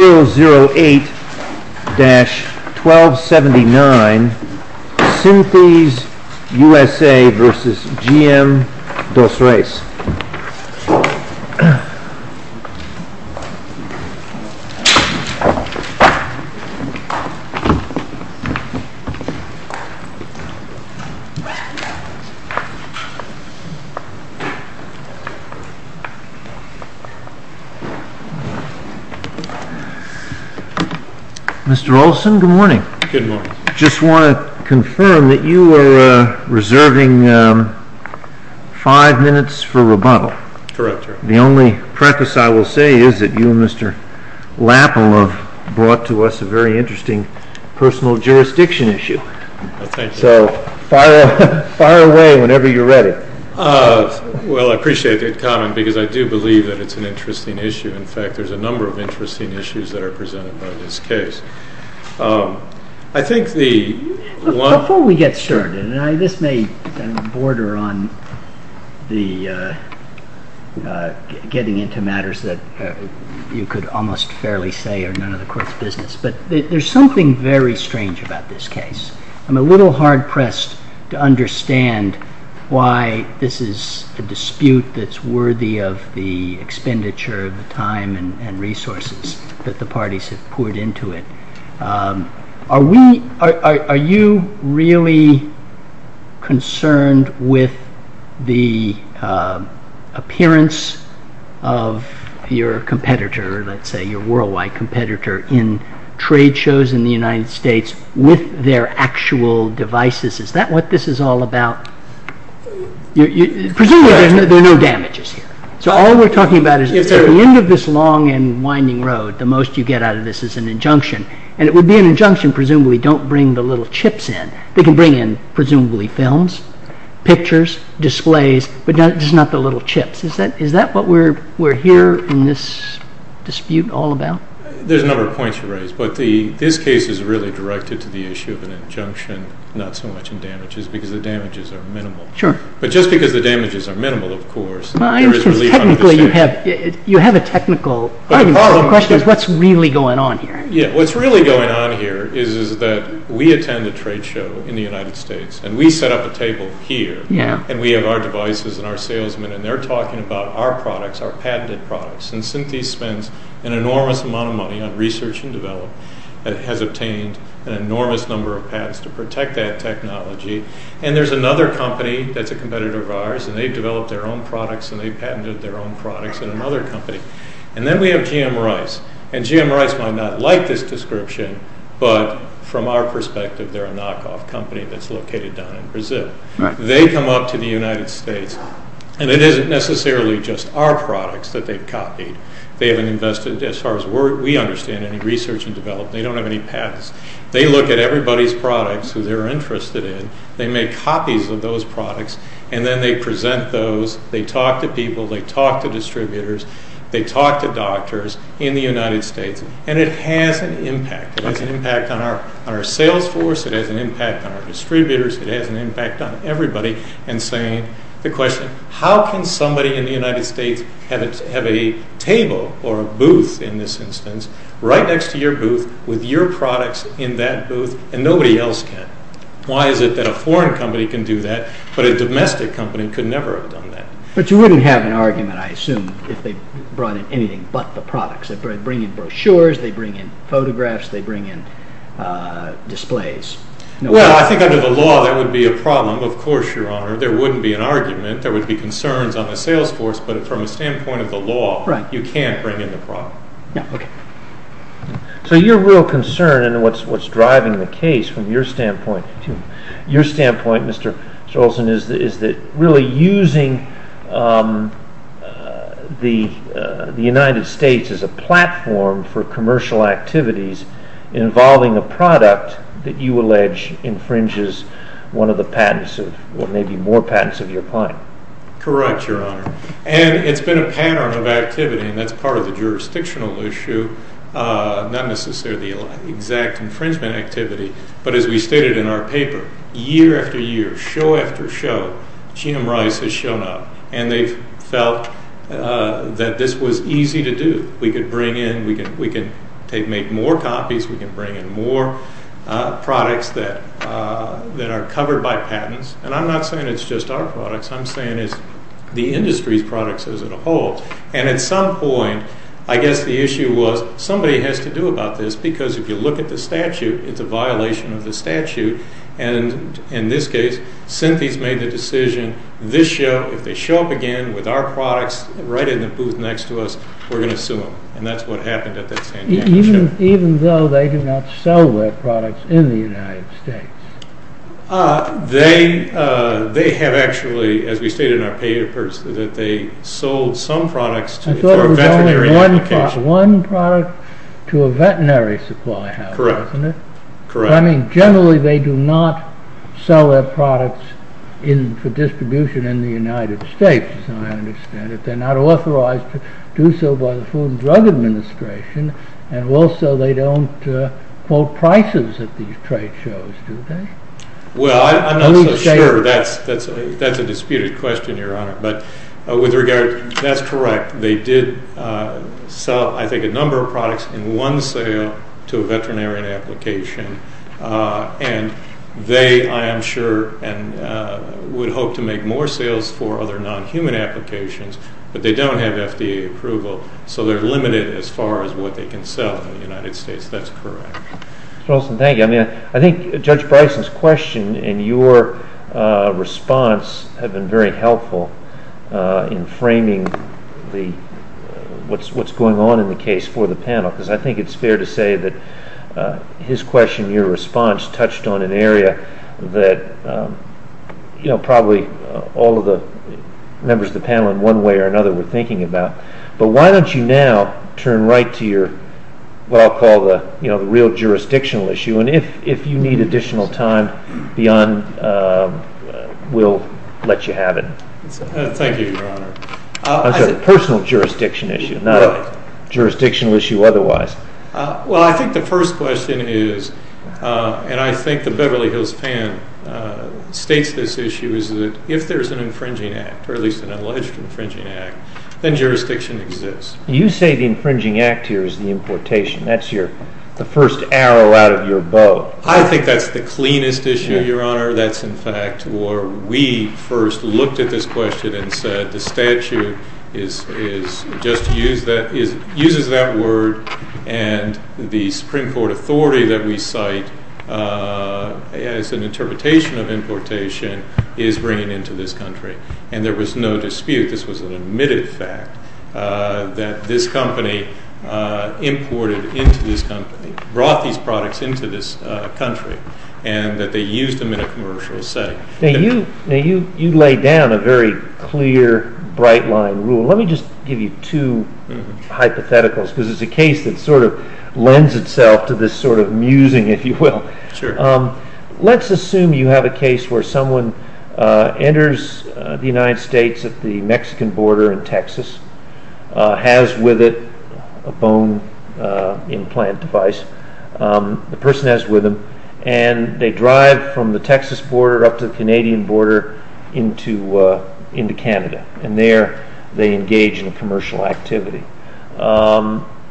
008-1279 Synthes USA v. GM DOS REIS Mr. Olson, good morning. Good morning. I just want to confirm that you are reserving five minutes for rebuttal. Correct, sir. The only preface I will say is that you and Mr. Lapple have brought to us a very interesting personal jurisdiction issue. Thank you. So fire away whenever you're ready. Well, I appreciate the comment because I do believe that it's an interesting issue. In fact, there's a number of interesting issues that are presented by this case. I think the one… Before we get started, and this may border on the getting into matters that you could almost fairly say are none of the Court's business, but there's something very strange about this case. I'm a little hard-pressed to understand why this is a dispute that's worthy of the expenditure of the time and resources that the parties have poured into it. Are you really concerned with the appearance of your competitor, let's say your worldwide competitor, in trade shows in the United States with their actual devices? Is that what this is all about? Presumably there are no damages here. So all we're talking about is at the end of this long and winding road, the most you get out of this is an injunction. And it would be an injunction, presumably, don't bring the little chips in. They can bring in presumably films, pictures, displays, but just not the little chips. Is that what we're here in this dispute all about? There's a number of points you raise, but this case is really directed to the issue of an injunction, not so much in damages, because the damages are minimal. Sure. But just because the damages are minimal, of course, there is belief under the same… Technically, you have a technical argument, but the question is what's really going on here? What's really going on here is that we attend a trade show in the United States, and we set up a table here, and we have our devices and our salesmen, and they're talking about our products, our patented products. And Synthese spends an enormous amount of money on research and development. It has obtained an enormous number of patents to protect that technology. And there's another company that's a competitor of ours, and they've developed their own products, and they've patented their own products in another company. And then we have GM Rice. And GM Rice might not like this description, but from our perspective, they're a knockoff company that's located down in Brazil. They come up to the United States, and it isn't necessarily just our products that they've copied. They haven't invested, as far as we understand, any research and development. They don't have any patents. They look at everybody's products who they're interested in. They make copies of those products, and then they present those. They talk to people. They talk to distributors. They talk to doctors in the United States. And it has an impact. It has an impact on our sales force. It has an impact on our distributors. It has an impact on everybody. And saying the question, how can somebody in the United States have a table or a booth, in this instance, right next to your booth with your products in that booth, and nobody else can? Why is it that a foreign company can do that, but a domestic company could never have done that? But you wouldn't have an argument, I assume, if they brought in anything but the products. They bring in brochures. They bring in photographs. They bring in displays. Well, I think under the law, that would be a problem. Of course, Your Honor, there wouldn't be an argument. There would be concerns on the sales force. But from a standpoint of the law, you can't bring in the product. Yeah, okay. So your real concern and what's driving the case from your standpoint, Mr. Olson, is that really using the United States as a platform for commercial activities involving a product that you allege infringes one of the patents or maybe more patents of your client. Correct, Your Honor. And it's been a pattern of activity, and that's part of the jurisdictional issue, not necessarily the exact infringement activity. But as we stated in our paper, year after year, show after show, GM Rice has shown up, and they've felt that this was easy to do. We could bring in. We can make more copies. We can bring in more products that are covered by patents. And I'm not saying it's just our products. I'm saying it's the industry's products as a whole. And at some point, I guess the issue was somebody has to do about this, because if you look at the statute, it's a violation of the statute. And in this case, Synthes made the decision, this show, if they show up again with our products right in the booth next to us, we're going to sue them. And that's what happened at that San Diego show. Even though they did not sell their products in the United States? They have actually, as we stated in our papers, that they sold some products for a veterinary application. I thought it was only one product to a veterinary supply house, wasn't it? Correct. I mean, generally they do not sell their products for distribution in the United States, as I understand it. But they're not authorized to do so by the Food and Drug Administration, and also they don't quote prices at these trade shows, do they? Well, I'm not so sure. That's a disputed question, Your Honor. But with regard, that's correct. They did sell, I think, a number of products in one sale to a veterinary application. And they, I am sure, would hope to make more sales for other non-human applications, but they don't have FDA approval, so they're limited as far as what they can sell in the United States. That's correct. Mr. Olson, thank you. I think Judge Bryson's question and your response have been very helpful in framing what's going on in the case for the panel, because I think it's fair to say that his question, your response, touched on an area that probably all of the members of the panel, in one way or another, were thinking about. But why don't you now turn right to what I'll call the real jurisdictional issue, and if you need additional time, we'll let you have it. Thank you, Your Honor. I'm sorry, the personal jurisdiction issue, not a jurisdictional issue otherwise. Well, I think the first question is, and I think the Beverly Hills fan states this issue, is that if there's an infringing act, or at least an alleged infringing act, then jurisdiction exists. You say the infringing act here is the importation. That's the first arrow out of your bow. I think that's the cleanest issue, Your Honor. That's, in fact, where we first looked at this question and said the statute just uses that word, and the Supreme Court authority that we cite as an interpretation of importation is bringing it into this country. And there was no dispute. This was an admitted fact that this company imported into this company, brought these products into this country, and that they used them in a commercial setting. Now, you lay down a very clear, bright-line rule. Let me just give you two hypotheticals, because it's a case that sort of lends itself to this sort of musing, if you will. Sure. Let's assume you have a case where someone enters the United States at the Mexican border in Texas, has with it a bone implant device, the person has it with them, and they drive from the Texas border up to the Canadian border into Canada, and there they engage in a commercial activity.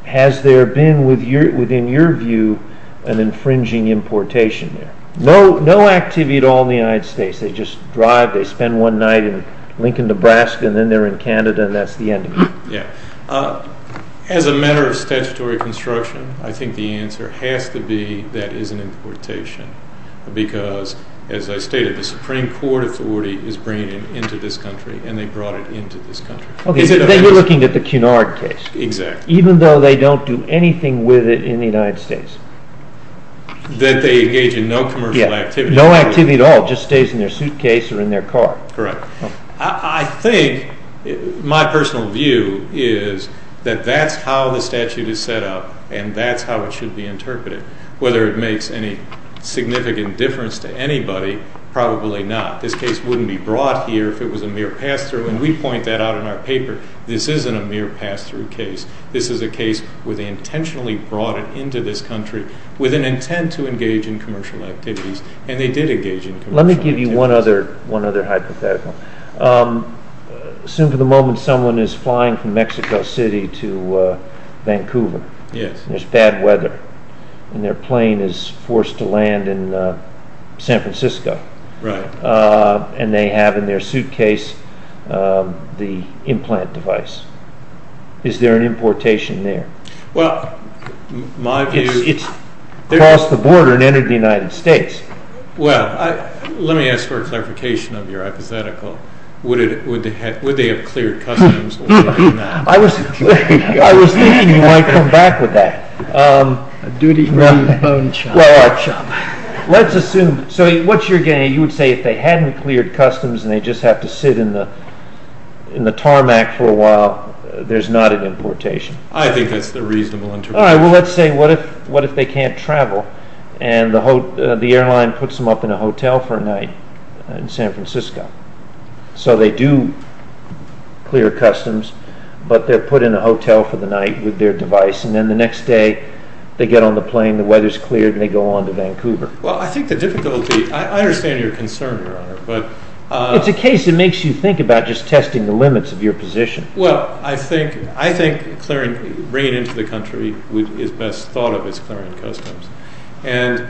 Has there been, within your view, an infringing importation there? No activity at all in the United States. They just drive, they spend one night in Lincoln, Nebraska, and then they're in Canada, and that's the end of it. Yeah. As a matter of statutory construction, I think the answer has to be that is an importation, because, as I stated, the Supreme Court authority is bringing it into this country, and they brought it into this country. You're looking at the Cunard case. Exactly. Even though they don't do anything with it in the United States. That they engage in no commercial activity. No activity at all, just stays in their suitcase or in their car. Correct. I think, my personal view is that that's how the statute is set up, and that's how it should be interpreted. Whether it makes any significant difference to anybody, probably not. This case wouldn't be brought here if it was a mere pass-through, and we point that out in our paper. This isn't a mere pass-through case. This is a case where they intentionally brought it into this country with an intent to engage in commercial activities, and they did engage in commercial activities. Let me give you one other hypothetical. Assume for the moment someone is flying from Mexico City to Vancouver. Yes. And there's bad weather, and their plane is forced to land in San Francisco. Right. And they have in their suitcase the implant device. Is there an importation there? Well, my view... It's crossed the border and entered the United States. Well, let me ask for a clarification of your hypothetical. Would they have cleared customs or not? I was thinking you might come back with that. A duty-free phone chop. Let's assume... So what you're getting at, you would say if they hadn't cleared customs and they just have to sit in the tarmac for a while, there's not an importation. I think that's the reasonable interpretation. All right, well, let's say what if they can't travel, and the airline puts them up in a hotel for a night in San Francisco. So they do clear customs, but they're put in a hotel for the night with their device, and then the next day they get on the plane, the weather's cleared, and they go on to Vancouver. Well, I think the difficulty... I understand your concern, Your Honor, but... It's a case that makes you think about just testing the limits of your position. Well, I think bringing it into the country is best thought of as clearing customs. And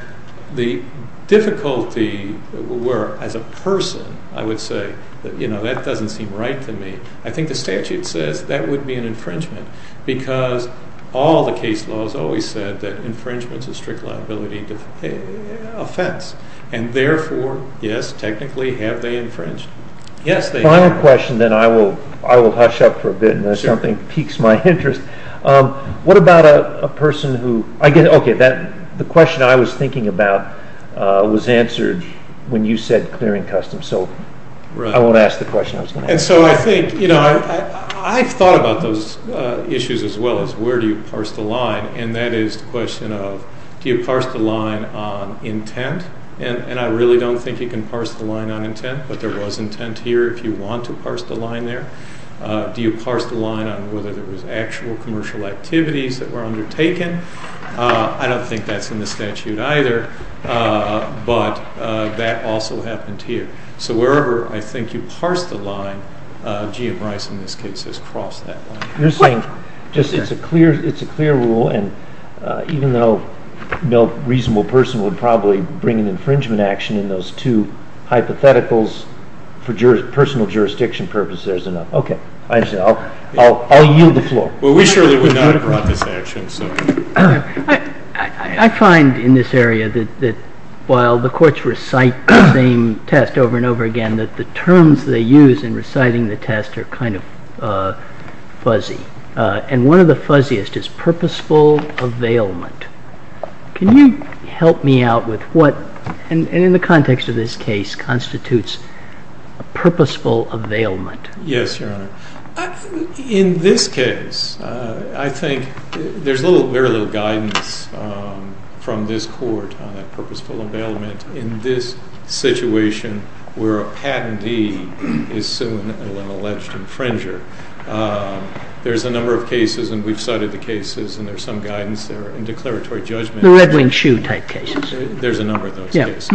the difficulty were, as a person, I would say, you know, that doesn't seem right to me. I think the statute says that would be an infringement, because all the case laws always said that infringement's a strict liability offense. And therefore, yes, technically, have they infringed? Yes, they have. Final question, then I will hush up for a bit until something piques my interest. What about a person who... Okay, the question I was thinking about was answered when you said clearing customs. So I won't ask the question I was going to ask. And so I think, you know, I've thought about those issues as well as where do you parse the line, and that is the question of do you parse the line on intent? And I really don't think you can parse the line on intent, but there was intent here if you want to parse the line there. Do you parse the line on whether there was actual commercial activities that were undertaken? I don't think that's in the statute either, but that also happened here. So wherever I think you parse the line, G.M. Rice, in this case, has crossed that line. You're saying just it's a clear rule, and even though no reasonable person would probably bring an infringement action in those two hypotheticals, for personal jurisdiction purposes, there's enough. Okay, I understand. I'll yield the floor. Well, we surely would not have brought this action, so... I find in this area that while the courts recite the same test over and over again, that the terms they use in reciting the test are kind of fuzzy, and one of the fuzziest is purposeful availment. Can you help me out with what, in the context of this case, constitutes a purposeful availment? Yes, Your Honor. In this case, I think there's very little guidance from this court on a purposeful availment in this situation where a patentee is suing an alleged infringer. There's a number of cases, and we've cited the cases, and there's some guidance there in declaratory judgment. The Red Wing Shoe type cases. There's a number of those cases.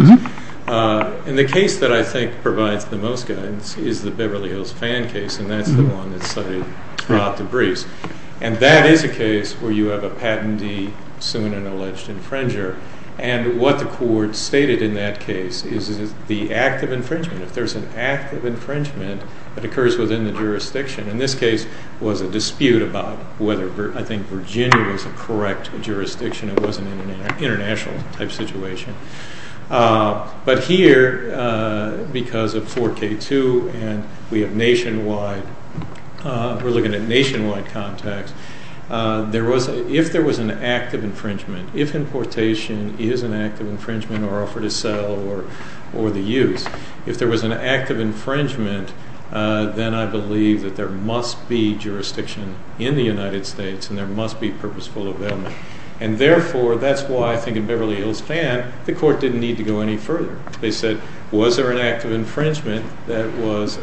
And the case that I think provides the most guidance is the Beverly Hills Fan case, and that's the one that's cited throughout the briefs. And that is a case where you have a patentee suing an alleged infringer, and what the court stated in that case is the act of infringement. If there's an act of infringement that occurs within the jurisdiction, and this case was a dispute about whether I think Virginia was a correct jurisdiction and it wasn't an international type situation. But here, because of 4K2 and we have nationwide, we're looking at nationwide contacts, if there was an act of infringement, if importation is an act of infringement or offer to sell or the use, if there was an act of infringement, then I believe that there must be jurisdiction in the United States and there must be purposeful availment. And therefore, that's why I think in Beverly Hills Fan, the court didn't need to go any further. They said, was there an act of infringement that was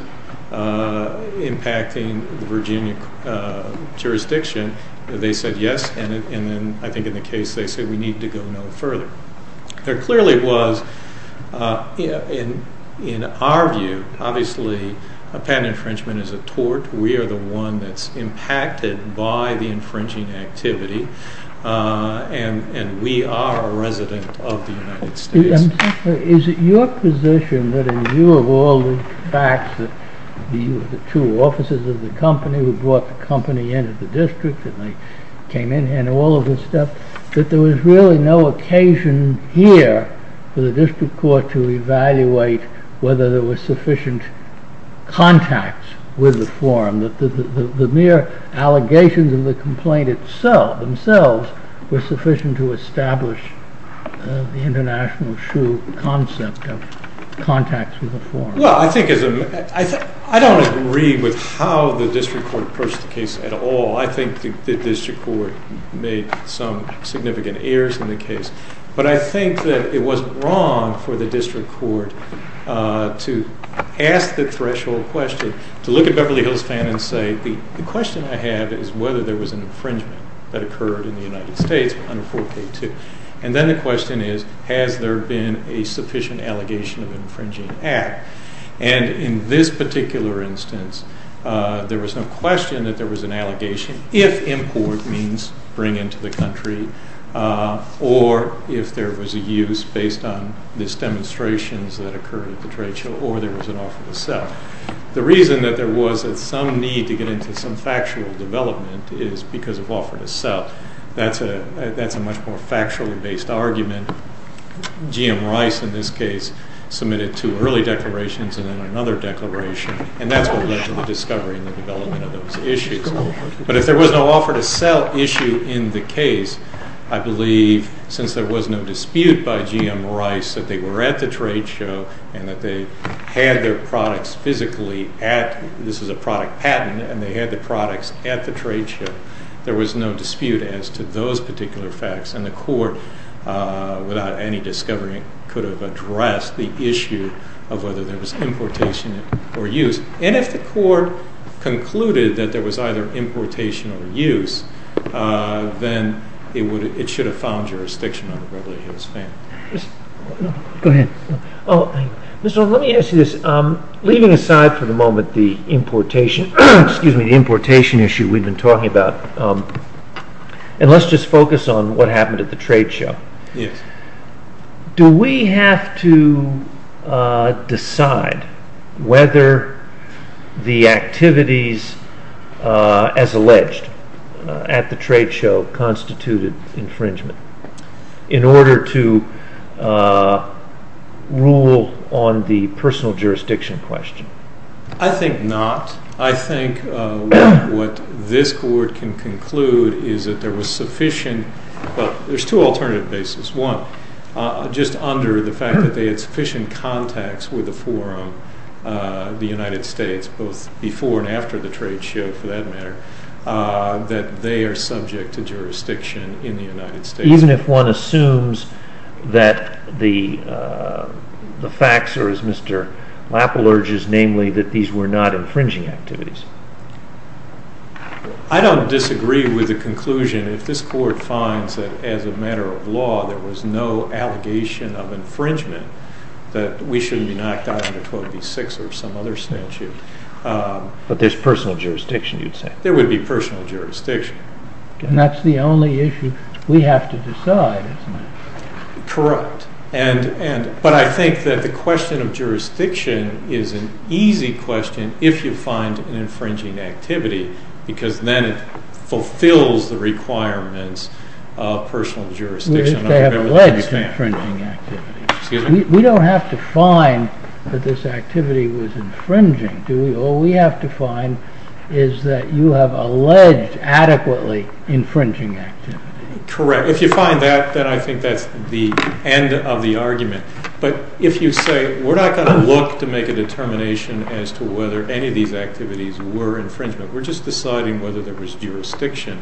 impacting the Virginia jurisdiction? They said yes, and then I think in the case they said we need to go no further. There clearly was, in our view, obviously a patent infringement is a tort. We are the one that's impacted by the infringing activity and we are a resident of the United States. Is it your position that in view of all the facts that the two officers of the company, who brought the company into the district and they came in and all of this stuff, that there was really no occasion here for the district court to evaluate whether there were sufficient contacts with the forum, that the mere allegations of the complaint themselves were sufficient to establish the international shoe concept of contacts with the forum? Well, I don't agree with how the district court approached the case at all. I think the district court made some significant errors in the case, but I think that it wasn't wrong for the district court to ask the threshold question, to look at Beverly Hills Fan and say, the question I have is whether there was an infringement that occurred in the United States under 4K2, and then the question is, has there been a sufficient allegation of infringing act? And in this particular instance, there was no question that there was an allegation, if import means bring into the country or if there was a use based on these demonstrations that occurred at the trade show or there was an offer to sell. The reason that there was some need to get into some factual development is because of offer to sell. That's a much more factually based argument. GM Rice in this case submitted two early declarations and then another declaration, and that's what led to the discovery and the development of those issues. But if there was no offer to sell issue in the case, I believe since there was no dispute by GM Rice that they were at the trade show and that they had their products physically at, this is a product patent, and they had the products at the trade show, there was no dispute as to those particular facts, and the court without any discovery could have addressed the issue of whether there was importation or use. And if the court concluded that there was either importation or use, then it should have found jurisdiction on the brevity of his claim. Go ahead. Mr. Rohn, let me ask you this. Leaving aside for the moment the importation issue we've been talking about, and let's just focus on what happened at the trade show. Yes. Do we have to decide whether the activities as alleged at the trade show constituted infringement in order to rule on the personal jurisdiction question? I think not. I think what this court can conclude is that there was sufficient, well, there's two alternative bases. One, just under the fact that they had sufficient contacts with the forum, the United States, both before and after the trade show for that matter, that they are subject to jurisdiction in the United States. Even if one assumes that the facts are, as Mr. Lapp alleges, namely that these were not infringing activities? I don't disagree with the conclusion. If this court finds that as a matter of law there was no allegation of infringement, that we shouldn't be knocked out under 12B6 or some other statute. But there's personal jurisdiction, you'd say? There would be personal jurisdiction. And that's the only issue we have to decide, isn't it? Correct. But I think that the question of jurisdiction is an easy question if you find an infringing activity because then it fulfills the requirements of personal jurisdiction. We don't have to find that this activity was infringing, do we? All we have to find is that you have alleged adequately infringing activity. Correct. If you find that, then I think that's the end of the argument. But if you say we're not going to look to make a determination as to whether any of these activities were infringement. We're just deciding whether there was jurisdiction,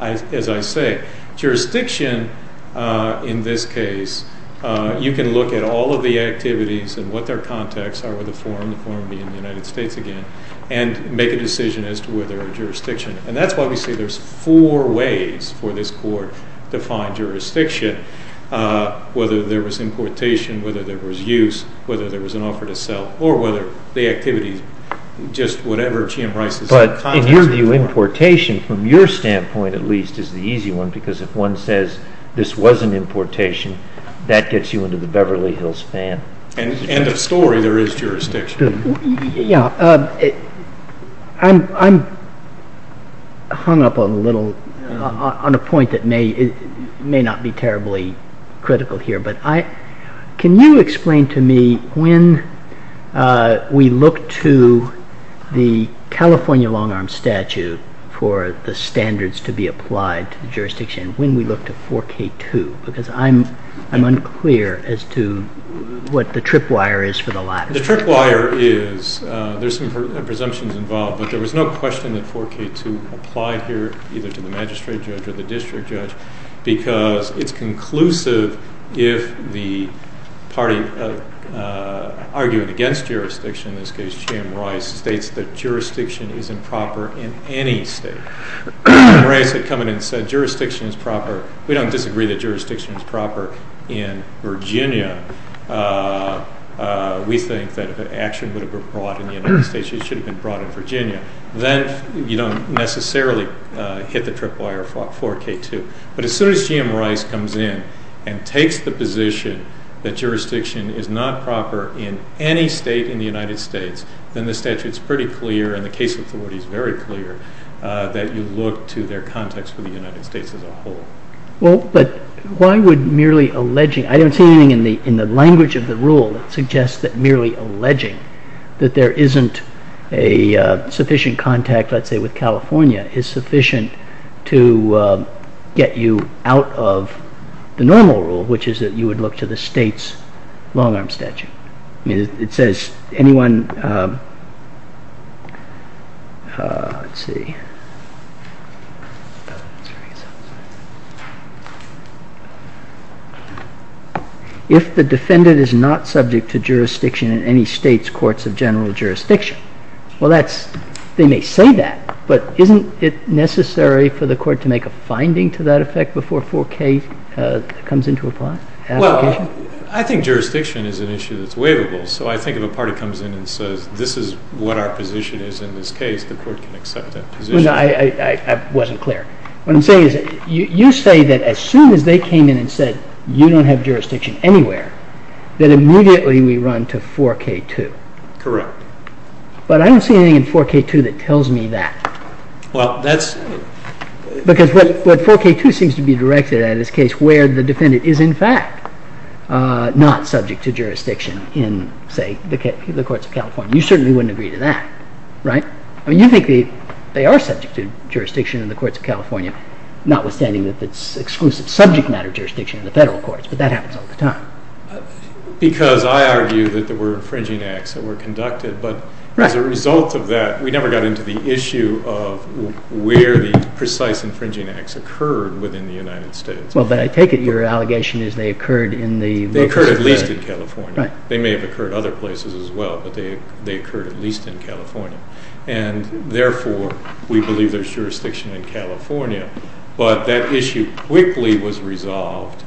as I say. Jurisdiction in this case, you can look at all of the activities and what their contexts are with the forum, the forum being the United States again, and make a decision as to whether a jurisdiction. And that's why we say there's four ways for this court to find jurisdiction, whether there was importation, whether there was use, whether there was an offer to sell, or whether the activity is just whatever Jim Rice's context. But in your view, importation, from your standpoint at least, is the easy one because if one says this was an importation, that gets you into the Beverly Hills fan. End of story, there is jurisdiction. I'm hung up on a point that may not be terribly critical here, but can you explain to me when we look to the California long-arm statute for the standards to be applied to the jurisdiction, when we look to 4K2, because I'm unclear as to what the tripwire is for the latter. The tripwire is, there's some presumptions involved, but there was no question that 4K2 applied here either to the magistrate judge or the district judge because it's conclusive if the party arguing against jurisdiction, in this case Jim Rice, states that jurisdiction isn't proper in any state. Jim Rice had come in and said jurisdiction is proper. We don't disagree that jurisdiction is proper in Virginia. We think that if an action would have been brought in the United States, it should have been brought in Virginia. Then you don't necessarily hit the tripwire for 4K2. But as soon as Jim Rice comes in and takes the position that jurisdiction is not proper in any state in the United States, then the statute is pretty clear and the case authority is very clear that you look to their context for the United States as a whole. Well, but why would merely alleging, I don't see anything in the language of the rule that suggests that merely alleging that there isn't a sufficient contact, let's say, with California is sufficient to get you out of the normal rule, which is that you would look to the state's long-arm statute. It says anyone, let's see, if the defendant is not subject to jurisdiction in any state's courts of general jurisdiction, well, they may say that, but isn't it necessary for the court to make a finding to that effect before 4K comes into application? Well, I think jurisdiction is an issue that's waivable. So I think if a party comes in and says this is what our position is in this case, the court can accept that position. I wasn't clear. What I'm saying is you say that as soon as they came in and said you don't have jurisdiction anywhere, that immediately we run to 4K2. Correct. But I don't see anything in 4K2 that tells me that. Well, that's... Because what 4K2 seems to be directed at is a case where the defendant is in fact not subject to jurisdiction in, say, the courts of California. You certainly wouldn't agree to that, right? I mean, you think they are subject to jurisdiction in the courts of California, notwithstanding that it's exclusive subject matter jurisdiction in the federal courts, but that happens all the time. Because I argue that there were infringing acts that were conducted. But as a result of that, we never got into the issue of where the precise infringing acts occurred within the United States. Well, but I take it your allegation is they occurred in the... They occurred at least in California. They may have occurred other places as well, but they occurred at least in California. And therefore, we believe there's jurisdiction in California. But that issue quickly was resolved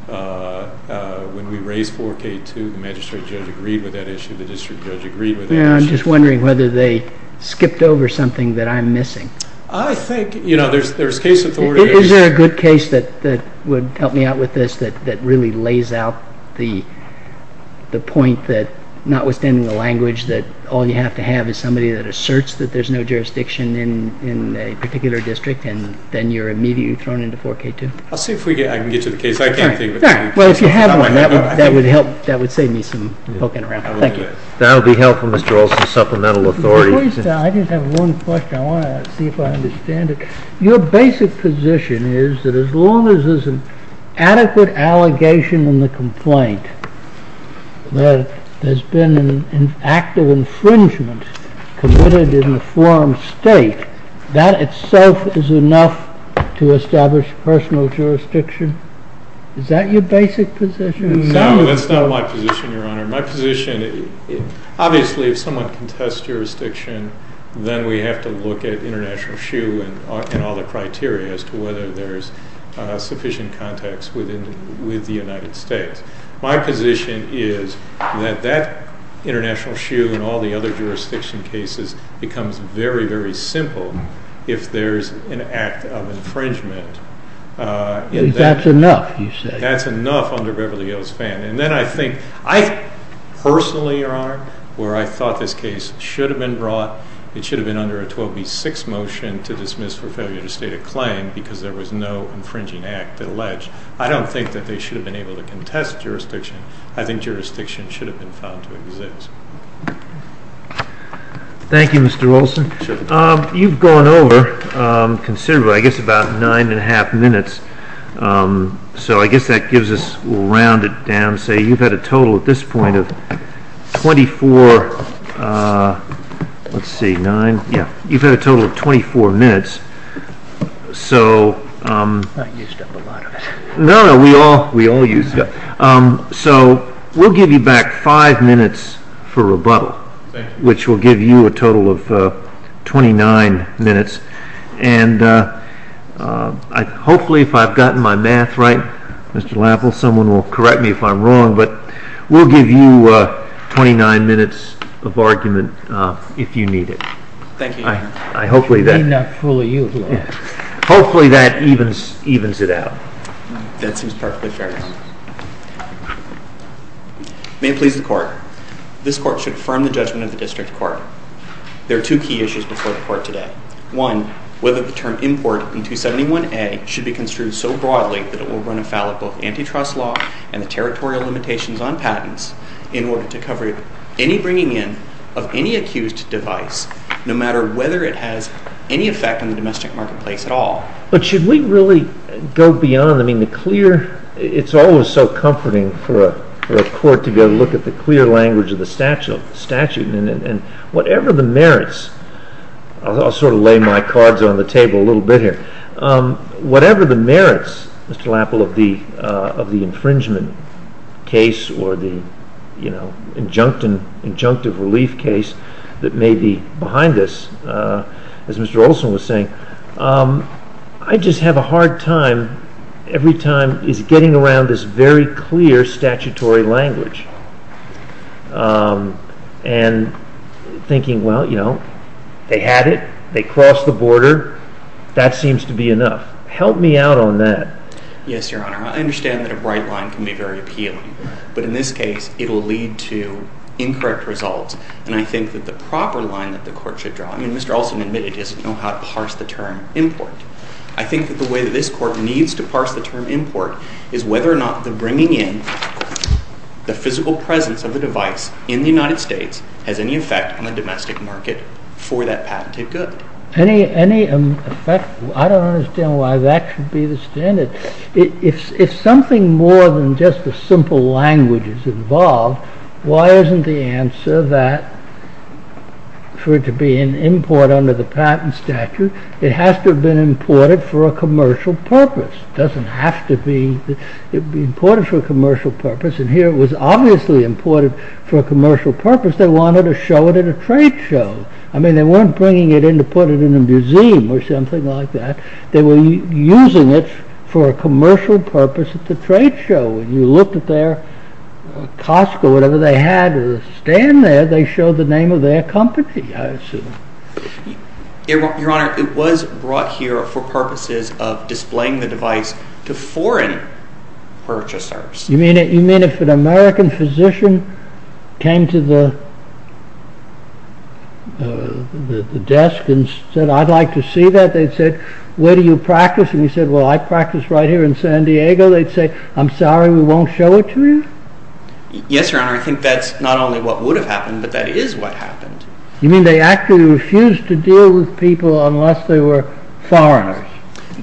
when we raised 4K2. The magistrate judge agreed with that issue. The district judge agreed with that issue. I'm just wondering whether they skipped over something that I'm missing. I think, you know, there's case authority... Is there a good case that would help me out with this that really lays out the point that, notwithstanding the language, that all you have to have is somebody that asserts that there's no jurisdiction in a particular district, and then you're immediately thrown into 4K2? I'll see if I can get you the case. All right. Well, if you have one, that would save me some poking around. Thank you. That would be helpful, Mr. Olson, supplemental authority. I just have one question. I want to see if I understand it. Your basic position is that as long as there's an adequate allegation in the complaint that there's been an act of infringement committed in the forum state, that itself is enough to establish personal jurisdiction? Is that your basic position? No, that's not my position, Your Honor. My position, obviously, if someone contests jurisdiction, then we have to look at international shoe and all the criteria as to whether there's sufficient context with the United States. My position is that that international shoe and all the other jurisdiction cases becomes very, very simple if there's an act of infringement. That's enough, you say? That's enough under Beverly Hills Fan. And then I think I personally, Your Honor, where I thought this case should have been brought, it should have been under a 12B6 motion to dismiss for failure to state a claim because there was no infringing act alleged, I don't think that they should have been able to contest jurisdiction. I think jurisdiction should have been found to exist. Thank you, Mr. Olson. You've gone over considerably, I guess about nine and a half minutes, so I guess that gives us, we'll round it down, say you've had a total at this point of 24 minutes. Not used up a lot of it. No, no, we all used up. So we'll give you back five minutes for rebuttal, which will give you a total of 29 minutes. And hopefully, if I've gotten my math right, Mr. Lapple, someone will correct me if I'm wrong, but we'll give you 29 minutes of argument if you need it. Thank you, Your Honor. Hopefully that evens it out. That seems perfectly fair, Your Honor. May it please the Court, this Court should affirm the judgment of the District Court. There are two key issues before the Court today. One, whether the term import in 271A should be construed so broadly that it will run afoul of both antitrust law and the territorial limitations on patents in order to cover any bringing in of any accused device, no matter whether it has any effect on the domestic marketplace at all. But should we really go beyond, I mean, the clear, it's always so comforting for a court to be able to look at the clear language of the statute. And whatever the merits, I'll sort of lay my cards on the table a little bit here. Whatever the merits, Mr. Lapple, of the infringement case or the, you know, the injunctive relief case that may be behind this, as Mr. Olson was saying, I just have a hard time every time is getting around this very clear statutory language and thinking, well, you know, they had it, they crossed the border, that seems to be enough. Help me out on that. Yes, Your Honor. I understand that a bright line can be very appealing. But in this case, it will lead to incorrect results. And I think that the proper line that the court should draw, I mean, Mr. Olson admitted he doesn't know how to parse the term import. I think that the way that this court needs to parse the term import is whether or not the bringing in, the physical presence of a device in the United States has any effect on the domestic market for that patented good. Any effect, I don't understand why that should be the standard. If something more than just a simple language is involved, why isn't the answer that for it to be an import under the patent statute, it has to have been imported for a commercial purpose. It doesn't have to be imported for a commercial purpose. And here it was obviously imported for a commercial purpose. They wanted to show it at a trade show. I mean, they weren't bringing it in to put it in a museum or something like that. They were using it for a commercial purpose at the trade show. When you looked at their cost or whatever they had to stand there, they showed the name of their company, I assume. Your Honor, it was brought here for purposes of displaying the device to foreign purchasers. You mean if an American physician came to the desk and said, I'd like to see that, they'd say, where do you practice? And you'd say, well, I practice right here in San Diego. They'd say, I'm sorry, we won't show it to you? Yes, Your Honor, I think that's not only what would have happened, but that is what happened. You mean they actually refused to deal with people unless they were foreigners?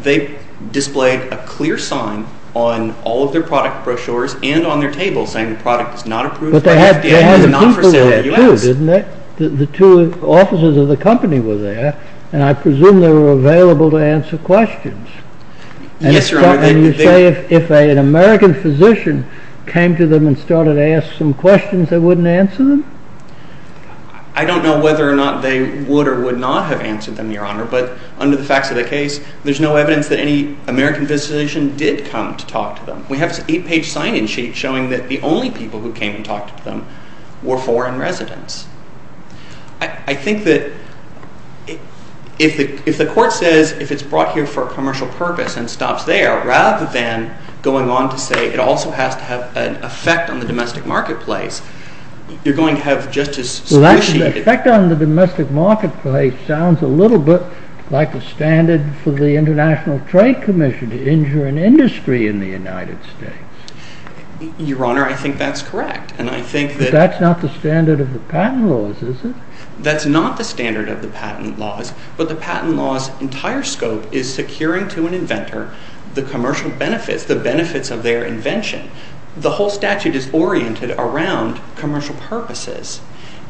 They displayed a clear sign on all of their product brochures and on their tables saying the product is not approved by the FDA and is not for sale in the U.S. But they had the people who approved, didn't they? The two officers of the company were there, and I presume they were available to answer questions. Yes, Your Honor. And you say if an American physician came to them and started to ask some questions, they wouldn't answer them? I don't know whether or not they would or would not have answered them, Your Honor, but under the facts of the case, there's no evidence that any American physician did come to talk to them. We have an eight-page sign-in sheet showing that the only people who came and talked to them were foreign residents. I think that if the court says if it's brought here for a commercial purpose and stops there, rather than going on to say it also has to have an effect on the domestic marketplace, you're going to have just as squishy... Well, actually, the effect on the domestic marketplace sounds a little bit like the standard for the International Trade Commission to injure an industry in the United States. Your Honor, I think that's correct, and I think that... But that's not the standard of the patent laws, is it? That's not the standard of the patent laws, but the patent law's entire scope is securing to an inventor the commercial benefits, the benefits of their invention. The whole statute is oriented around commercial purposes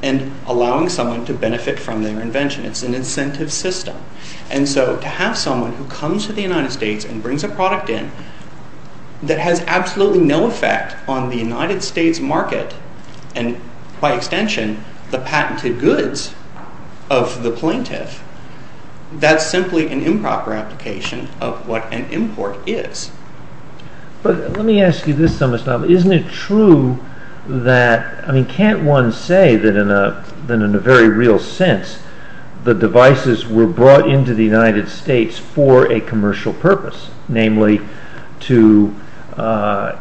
and allowing someone to benefit from their invention. It's an incentive system. And so to have someone who comes to the United States and brings a product in that has absolutely no effect on the United States market and, by extension, the patented goods of the plaintiff, that's simply an improper application of what an import is. But let me ask you this, Mr. Amistad. Isn't it true that... I mean, can't one say that in a very real sense the devices were brought into the United States for a commercial purpose, namely to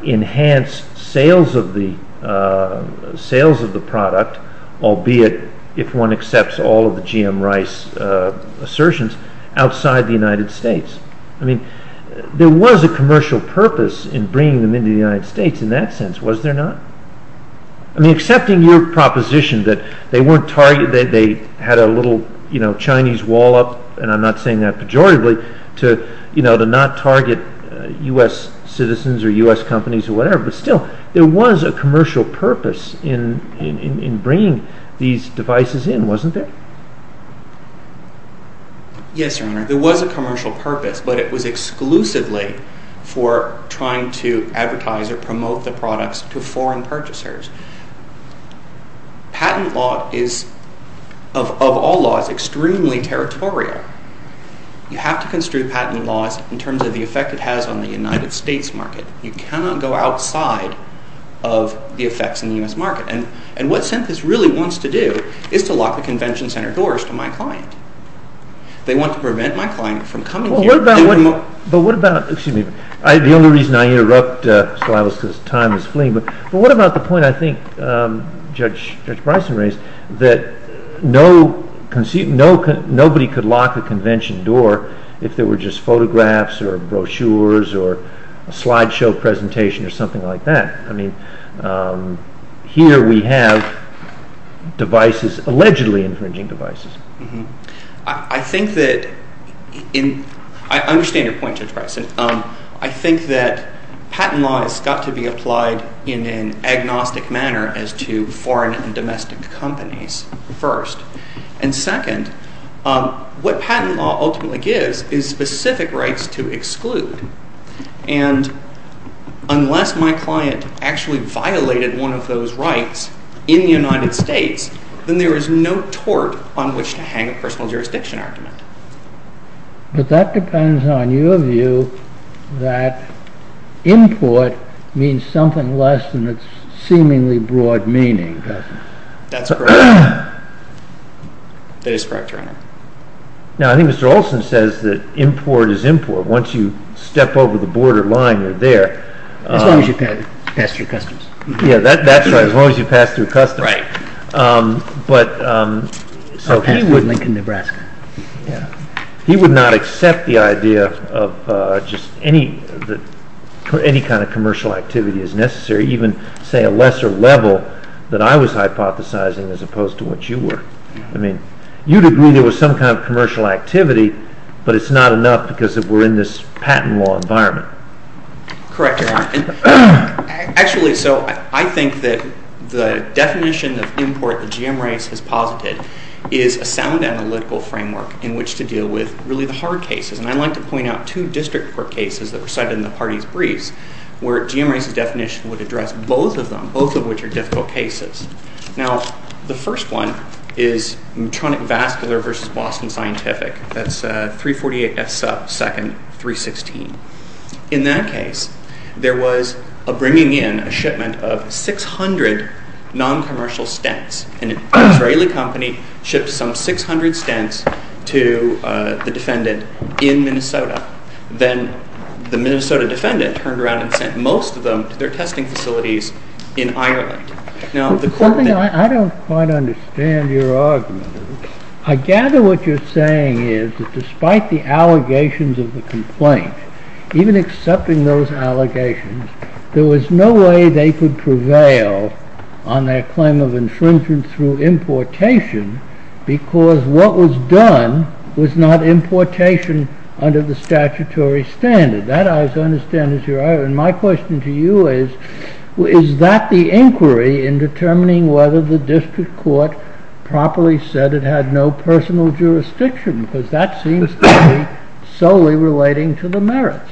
enhance sales of the product, albeit if one accepts all of the G.M. Rice assertions, outside the United States? I mean, there was a commercial purpose in bringing them into the United States in that sense, was there not? I mean, accepting your proposition that they weren't targeted, they had a little Chinese wall up, and I'm not saying that pejoratively, to not target U.S. citizens or U.S. companies or whatever, but still, there was a commercial purpose in bringing these devices in, wasn't there? Yes, Your Honor. There was a commercial purpose, but it was exclusively for trying to advertise or promote the products to foreign purchasers. Patent law is, of all laws, extremely territorial. You have to construe patent laws in terms of the effect it has on the United States market. You cannot go outside of the effects in the U.S. market, and what Synthesis really wants to do is to lock the convention center doors to my client. They want to prevent my client from coming here... But what about... Excuse me, the only reason I interrupt, because time is fleeing, but what about the point I think Judge Bryson raised, that nobody could lock a convention door if there were just photographs or brochures or a slideshow presentation or something like that? I mean, here we have devices, allegedly infringing devices. I think that... I understand your point, Judge Bryson. I think that patent law has got to be applied in an agnostic manner as to foreign and domestic companies, first. And second, what patent law ultimately gives is specific rights to exclude. And unless my client actually violated one of those rights in the United States, then there is no tort on which to hang a personal jurisdiction argument. But that depends on your view that import means something less than its seemingly broad meaning, doesn't it? That's correct. That is correct, Your Honor. Now, I think Mr. Olson says that import is import. Once you step over the borderline, you're there. As long as you pass through customs. Yeah, that's right. As long as you pass through customs. Right. But... He would not accept the idea of just any kind of commercial activity as necessary, even, say, a lesser level that I was hypothesizing as opposed to what you were. I mean, you'd agree there was some kind of commercial activity, but it's not enough because we're in this patent law environment. Correct, Your Honor. Actually, so I think that the definition of import that GM Reyes has posited is a sound analytical framework in which to deal with really the hard cases. And I'd like to point out two district court cases that were cited in the party's briefs where GM Reyes's definition would address both of them, both of which are difficult cases. Now, the first one is Medtronic-Vascular v. Boston Scientific. That's 348 F sub 2nd 316. In that case, there was a bringing in, a shipment of 600 noncommercial stents. An Israeli company shipped some 600 stents to the defendant in Minnesota. Then the Minnesota defendant turned around and sent most of them to their testing facilities in Ireland. Now, the court... I don't quite understand your argument. I gather what you're saying is that despite the allegations of the complaint, even accepting those allegations, there was no way they could prevail on their claim of infringement through importation because what was done was not importation under the statutory standard. That, I understand, is your argument. My question to you is, is that the inquiry in determining whether the district court properly said it had no personal jurisdiction? Because that seems to be solely relating to the merits.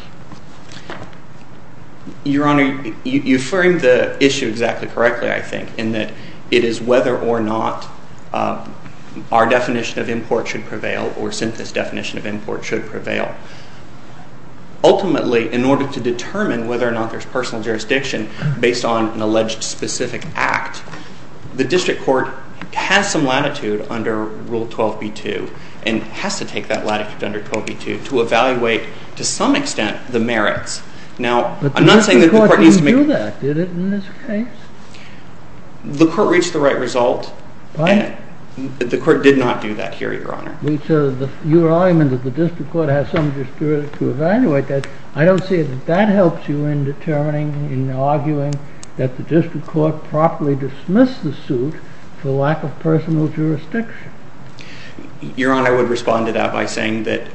Your Honor, you framed the issue exactly correctly, I think, in that it is whether or not our definition of import should prevail or Sintha's definition of import should prevail. Ultimately, in order to determine whether or not there's personal jurisdiction based on an alleged specific act, the district court has some latitude under Rule 12b-2 and has to take that latitude under 12b-2 to evaluate, to some extent, the merits. Now, I'm not saying that the court needs to make... But the district court didn't do that, did it, in this case? The court reached the right result. The court did not do that here, Your Honor. Your argument that the district court has some jurisdiction to evaluate that, I don't see that that helps you in determining, in arguing that the district court properly dismissed the suit for lack of personal jurisdiction. Your Honor, I would respond to that by saying that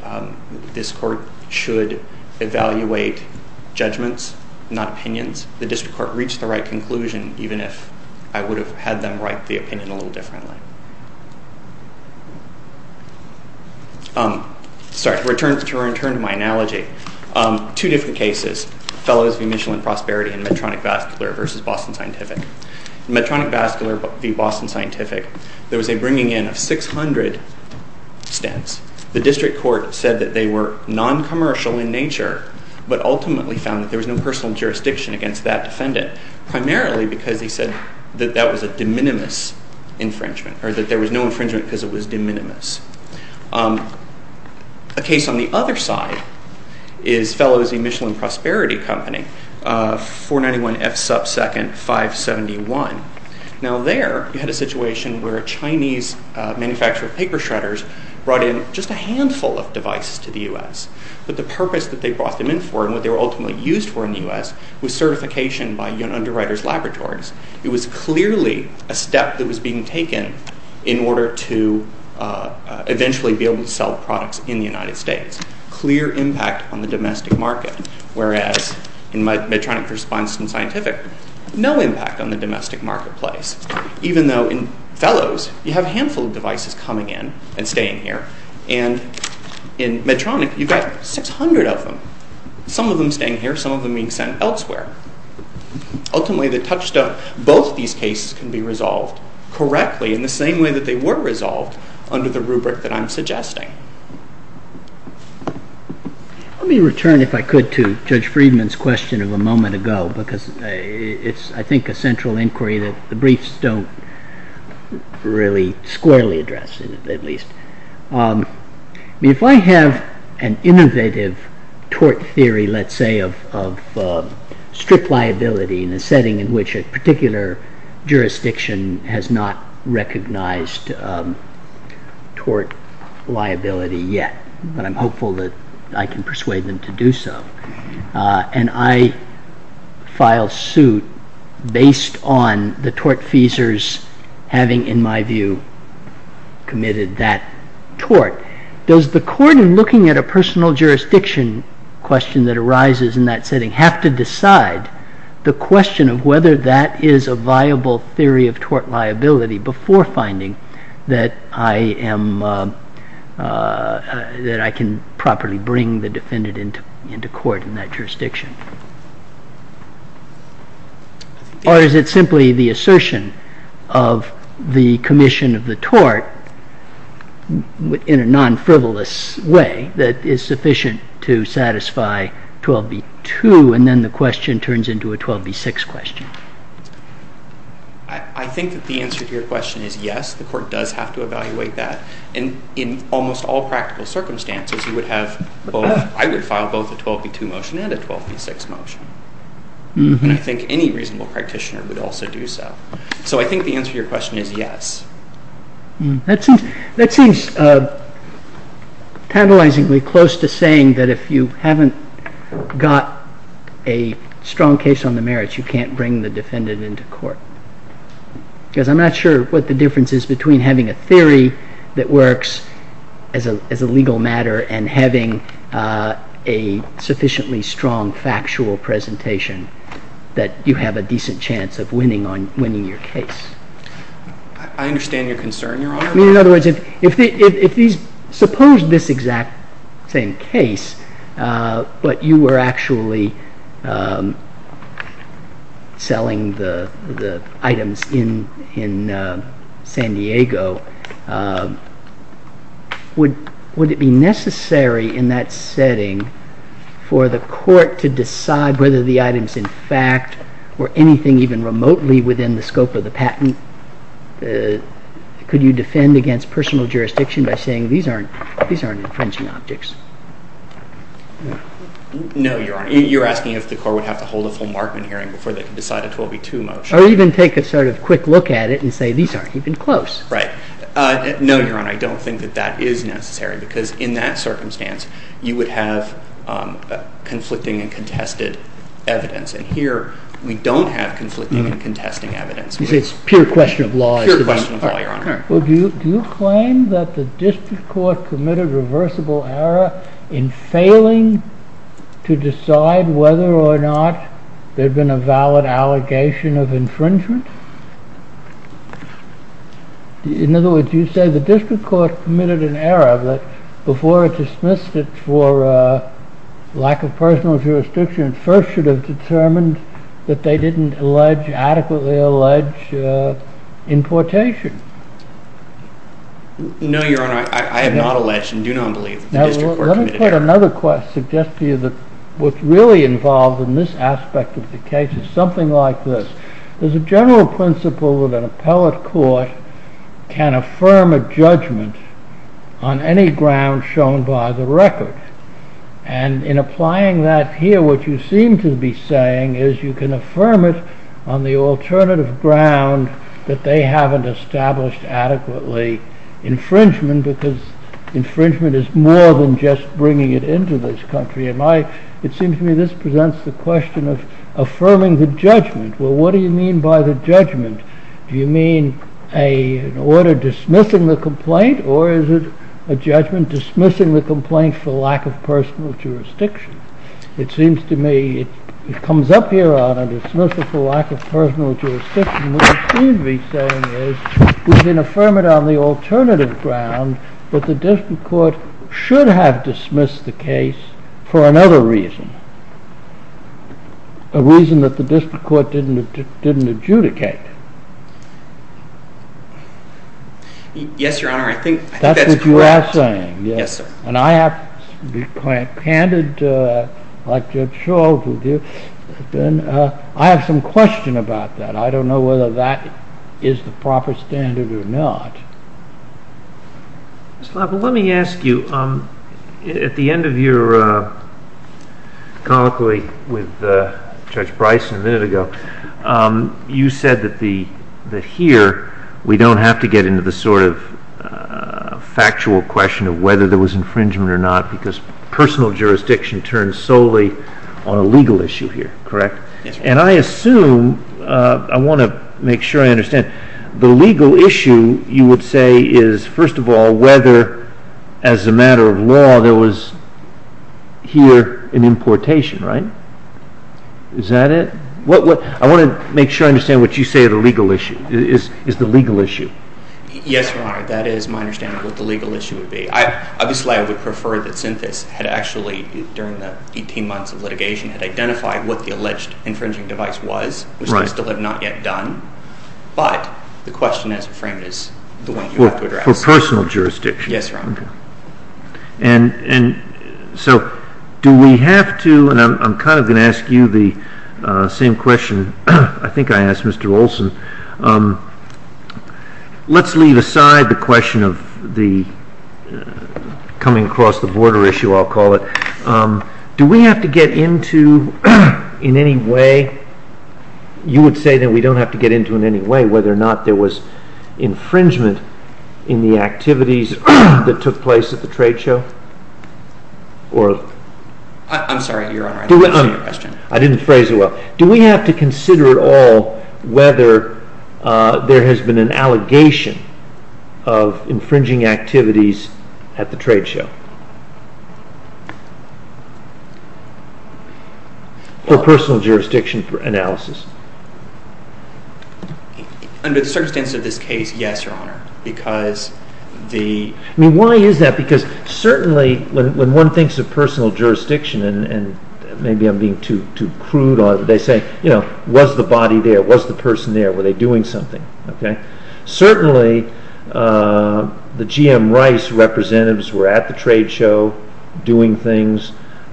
this court should evaluate judgments, not opinions. The district court reached the right conclusion, even if I would have had them write the opinion a little differently. Sorry, to return to my analogy, two different cases, Fellows v. Michel and Prosperity and Medtronic-Vascular v. Boston Scientific. In Medtronic-Vascular v. Boston Scientific, there was a bringing in of 600 stents. The district court said that they were non-commercial in nature, but ultimately found that there was no personal jurisdiction against that defendant, primarily because they said that that was a de minimis infringement, or that there was no infringement because it was de minimis. A case on the other side is Fellows v. Michel and Prosperity Company, 491 F. Sub. 2nd, 571. Now there, you had a situation where a Chinese manufacturer of paper shredders brought in just a handful of devices to the U.S., but the purpose that they brought them in for and what they were ultimately used for in the U.S. was certification by underwriters' laboratories. It was clearly a step that was being taken in order to eventually be able to sell products in the United States. Clear impact on the domestic market, whereas in Medtronic-V. Boston Scientific, no impact on the domestic marketplace, even though in Fellows, you have a handful of devices coming in and staying here, and in Medtronic, you've got 600 of them, some of them staying here, some of them being sent elsewhere. Ultimately, the touchstone, both these cases can be resolved correctly in the same way that they were resolved under the rubric that I'm suggesting. Let me return, if I could, to Judge Friedman's question of a moment ago, because it's, I think, a central inquiry that the briefs don't really squarely address, at least. If I have an innovative tort theory, let's say, of strip liability in a setting in which a particular jurisdiction has not recognized tort liability yet, but I'm hopeful that I can persuade them to do so, and I file suit based on the tortfeasors having, in my view, committed that tort. Does the court, in looking at a personal jurisdiction question that arises in that setting, have to decide the question of whether that is a viable theory of tort liability before finding that I am, that I can properly bring the defendant into court in that jurisdiction? Or is it simply the assertion of the commission of the tort in a non-frivolous way that is sufficient to satisfy 12b-2, and then the question turns into a 12b-6 question? I think that the answer to your question is yes, the court does have to evaluate that, and in almost all practical circumstances, I would file both a 12b-2 motion and a 12b-6 motion, and I think any reasonable practitioner would also do so. So I think the answer to your question is yes. That seems tantalizingly close to saying that if you haven't got a strong case on the merits, you can't bring the defendant into court, because I'm not sure what the difference is between having a theory that works as a legal matter and having a sufficiently strong factual presentation that you have a decent chance of winning your case. I understand your concern, Your Honor. In other words, if these, suppose this exact same case, but you were actually selling the items in San Diego, would it be necessary in that setting for the court to decide whether the items in fact were anything even remotely within the scope of the patent? Could you defend against personal jurisdiction by saying these aren't infringing objects? No, Your Honor. You're asking if the court would have to hold a full Markman hearing before they could decide a 12b-2 motion. Or even take a sort of quick look at it and say these aren't even close. Right. No, Your Honor. I don't think that that is necessary, because in that circumstance, you would have conflicting and contested evidence, and here we don't have conflicting and contesting evidence. You say it's pure question of law. Pure question of law, Your Honor. Do you claim that the district court committed reversible error in failing to decide whether or not there had been a valid allegation of infringement? In other words, you say the district court committed an error that before it dismissed it for lack of personal jurisdiction, it first should have determined that they didn't adequately allege importation. No, Your Honor. I have not alleged and do not believe that the district court committed an error. Let me put another question, suggest to you that what's really involved in this aspect of the case is something like this. There's a general principle that an appellate court can affirm a judgment on any ground shown by the record. And in applying that here, what you seem to be saying is you can affirm it on the alternative ground that they haven't established adequately infringement because infringement is more than just bringing it into this country. It seems to me this presents the question of affirming the judgment. Well, what do you mean by the judgment? Do you mean an order dismissing the complaint or is it a judgment dismissing the complaint for lack of personal jurisdiction? It seems to me it comes up here, Your Honor, dismissal for lack of personal jurisdiction. What you seem to be saying is you can affirm it on the alternative ground but the district court should have dismissed the case for another reason, a reason that the district court didn't adjudicate. Yes, Your Honor, I think that's correct. That's what you are saying. Yes, sir. And I have, candid, like Judge Scholl, I have some question about that. I don't know whether that is the proper standard or not. Mr. Labol, let me ask you, at the end of your colloquy with Judge Bryson a minute ago, you said that here we don't have to get into the sort of factual question of whether there was infringement or not because personal jurisdiction turns solely on a legal issue here, correct? Yes, Your Honor. And I assume, I want to make sure I understand, the legal issue, you would say, is first of all whether, as a matter of law, there was here an importation, right? Is that it? I want to make sure I understand what you say is the legal issue. Yes, Your Honor, that is my understanding of what the legal issue would be. Obviously, I would prefer that Synthesis had actually, during the 18 months of litigation, had identified what the alleged infringing device was, which they still have not yet done, but the question, as you frame it, is the one you have to address. Well, for personal jurisdiction. Yes, Your Honor. And so do we have to, and I'm kind of going to ask you the same question I think I asked Mr. Olson, let's leave aside the question of the coming-across-the-border issue, I'll call it. Do we have to get into, in any way, you would say that we don't have to get into in any way whether or not there was infringement in the activities that took place at the trade show? I'm sorry, Your Honor, I didn't understand your question. I didn't phrase it well. Do we have to consider at all whether there has been an allegation of infringing activities at the trade show? For personal jurisdiction for analysis. Under the circumstances of this case, yes, Your Honor. Because the... I mean, why is that? Because certainly when one thinks of personal jurisdiction, and maybe I'm being too crude, they say, you know, was the body there? Was the person there? Were they doing something? Okay. Certainly, the GM Rice representatives were at the trade show doing things.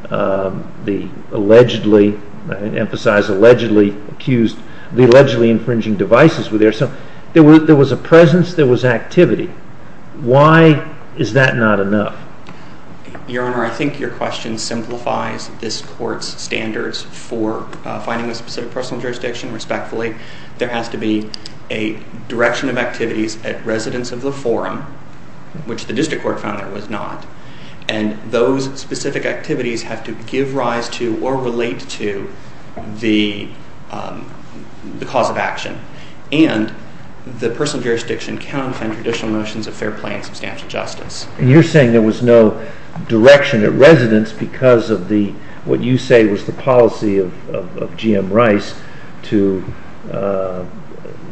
They allegedly, I emphasize allegedly, accused the allegedly infringing devices were there. So there was a presence, there was activity. Why is that not enough? Your Honor, I think your question simplifies this Court's standards for finding a specific personal jurisdiction respectfully. There has to be a direction of activities at residence of the forum, which the District Court found there was not. And those specific activities have to give rise to or relate to the cause of action. And the personal jurisdiction cannot defend traditional notions of fair play and substantial justice. And you're saying there was no direction at residence because of what you say was the policy of GM Rice to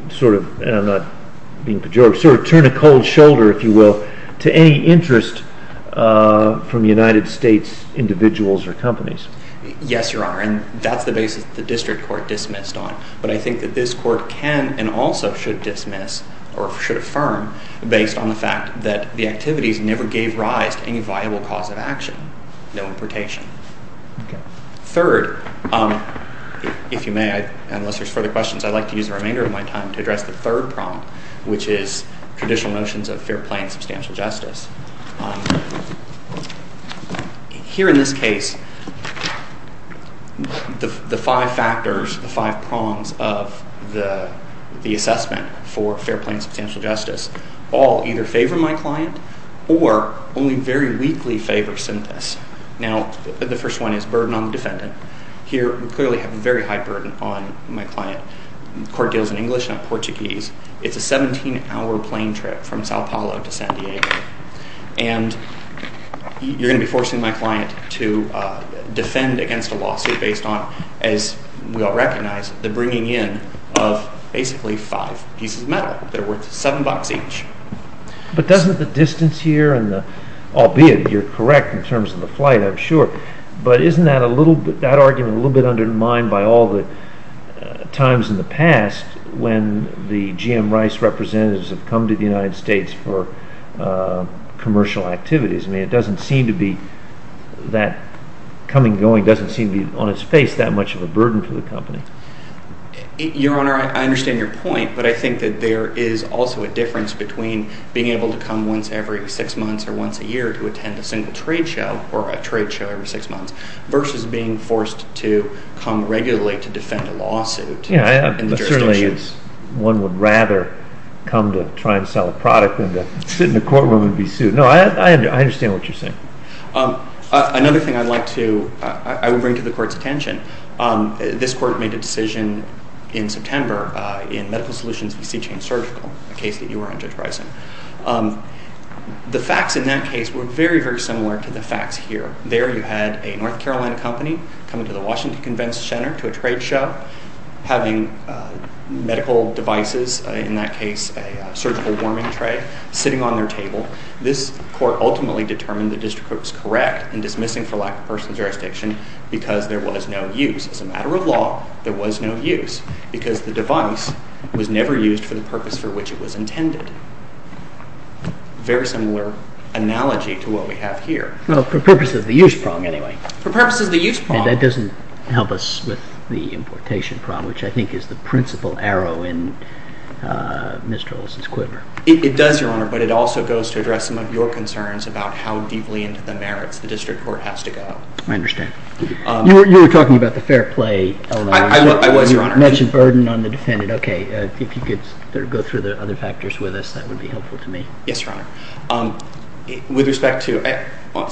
sort of, and I'm not being pejorative, sort of turn a cold shoulder, if you will, to any interest from United States individuals or companies. Yes, your Honor. And that's the basis the District Court dismissed on. But I think that this Court can and also should dismiss or should affirm based on the fact that the activities never gave rise to any viable cause of action, no importation. Third, if you may, unless there's further questions, I'd like to use the remainder of my time to address the third prong, which is traditional notions of fair play and substantial justice. Here in this case, the five factors, the five prongs of the assessment for fair play and substantial justice all either favor my client or only very weakly favor Synthesis. Now, the first one is burden on the defendant. Here, we clearly have a very high burden on my client. The Court deals in English, not Portuguese. It's a 17-hour plane trip from Sao Paulo to San Diego. And you're going to be forcing my client to defend against a lawsuit based on, as we all recognize, the bringing in of basically five pieces of metal that are worth seven bucks each. But doesn't the distance here, albeit you're correct in terms of the flight, I'm sure, but isn't that argument a little bit undermined by all the times in the past when the GM Rice representatives have come to the United States for commercial activities? I mean, it doesn't seem to be that coming and going doesn't seem to be on its face that much of a burden for the company. but I think that there is also a difference between being able to come once every six months or once a year to attend a single trade show or a trade show every six months versus being forced to come regularly to defend a lawsuit in the jurisdictions. Yeah, certainly one would rather come to try and sell a product than to sit in a courtroom and be sued. No, I understand what you're saying. Another thing I'd like to... I would bring to the Court's attention, this Court made a decision in September in Medical Solutions v. Seachain Surgical, a case that you were on, Judge Bryson. The facts in that case were very, very similar to the facts here. There you had a North Carolina company coming to the Washington Convention Center to a trade show, having medical devices, in that case a surgical warming tray, sitting on their table. This Court ultimately determined the district court was correct in dismissing for lack of personal jurisdiction because there was no use. As a matter of law, there was no use because the device was never used for the purpose for which it was intended. Very similar analogy to what we have here. Well, for purposes of the use prong, anyway. For purposes of the use prong. That doesn't help us with the importation prong, which I think is the principal arrow in Mr. Olson's quiver. It does, Your Honor, but it also goes to address some of your concerns about how deeply into the merits the district court has to go. I understand. You were talking about the fair play... I was, Your Honor. You mentioned burden on the defendant. Okay. If you could go through the other factors with us, that would be helpful to me. Yes, Your Honor. With respect to medical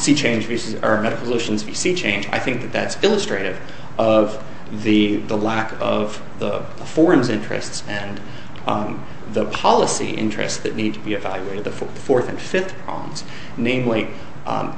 solutions v. C-Change, I think that that's illustrative of the lack of the forum's interests and the policy interests that need to be evaluated, the fourth and fifth prongs. Namely,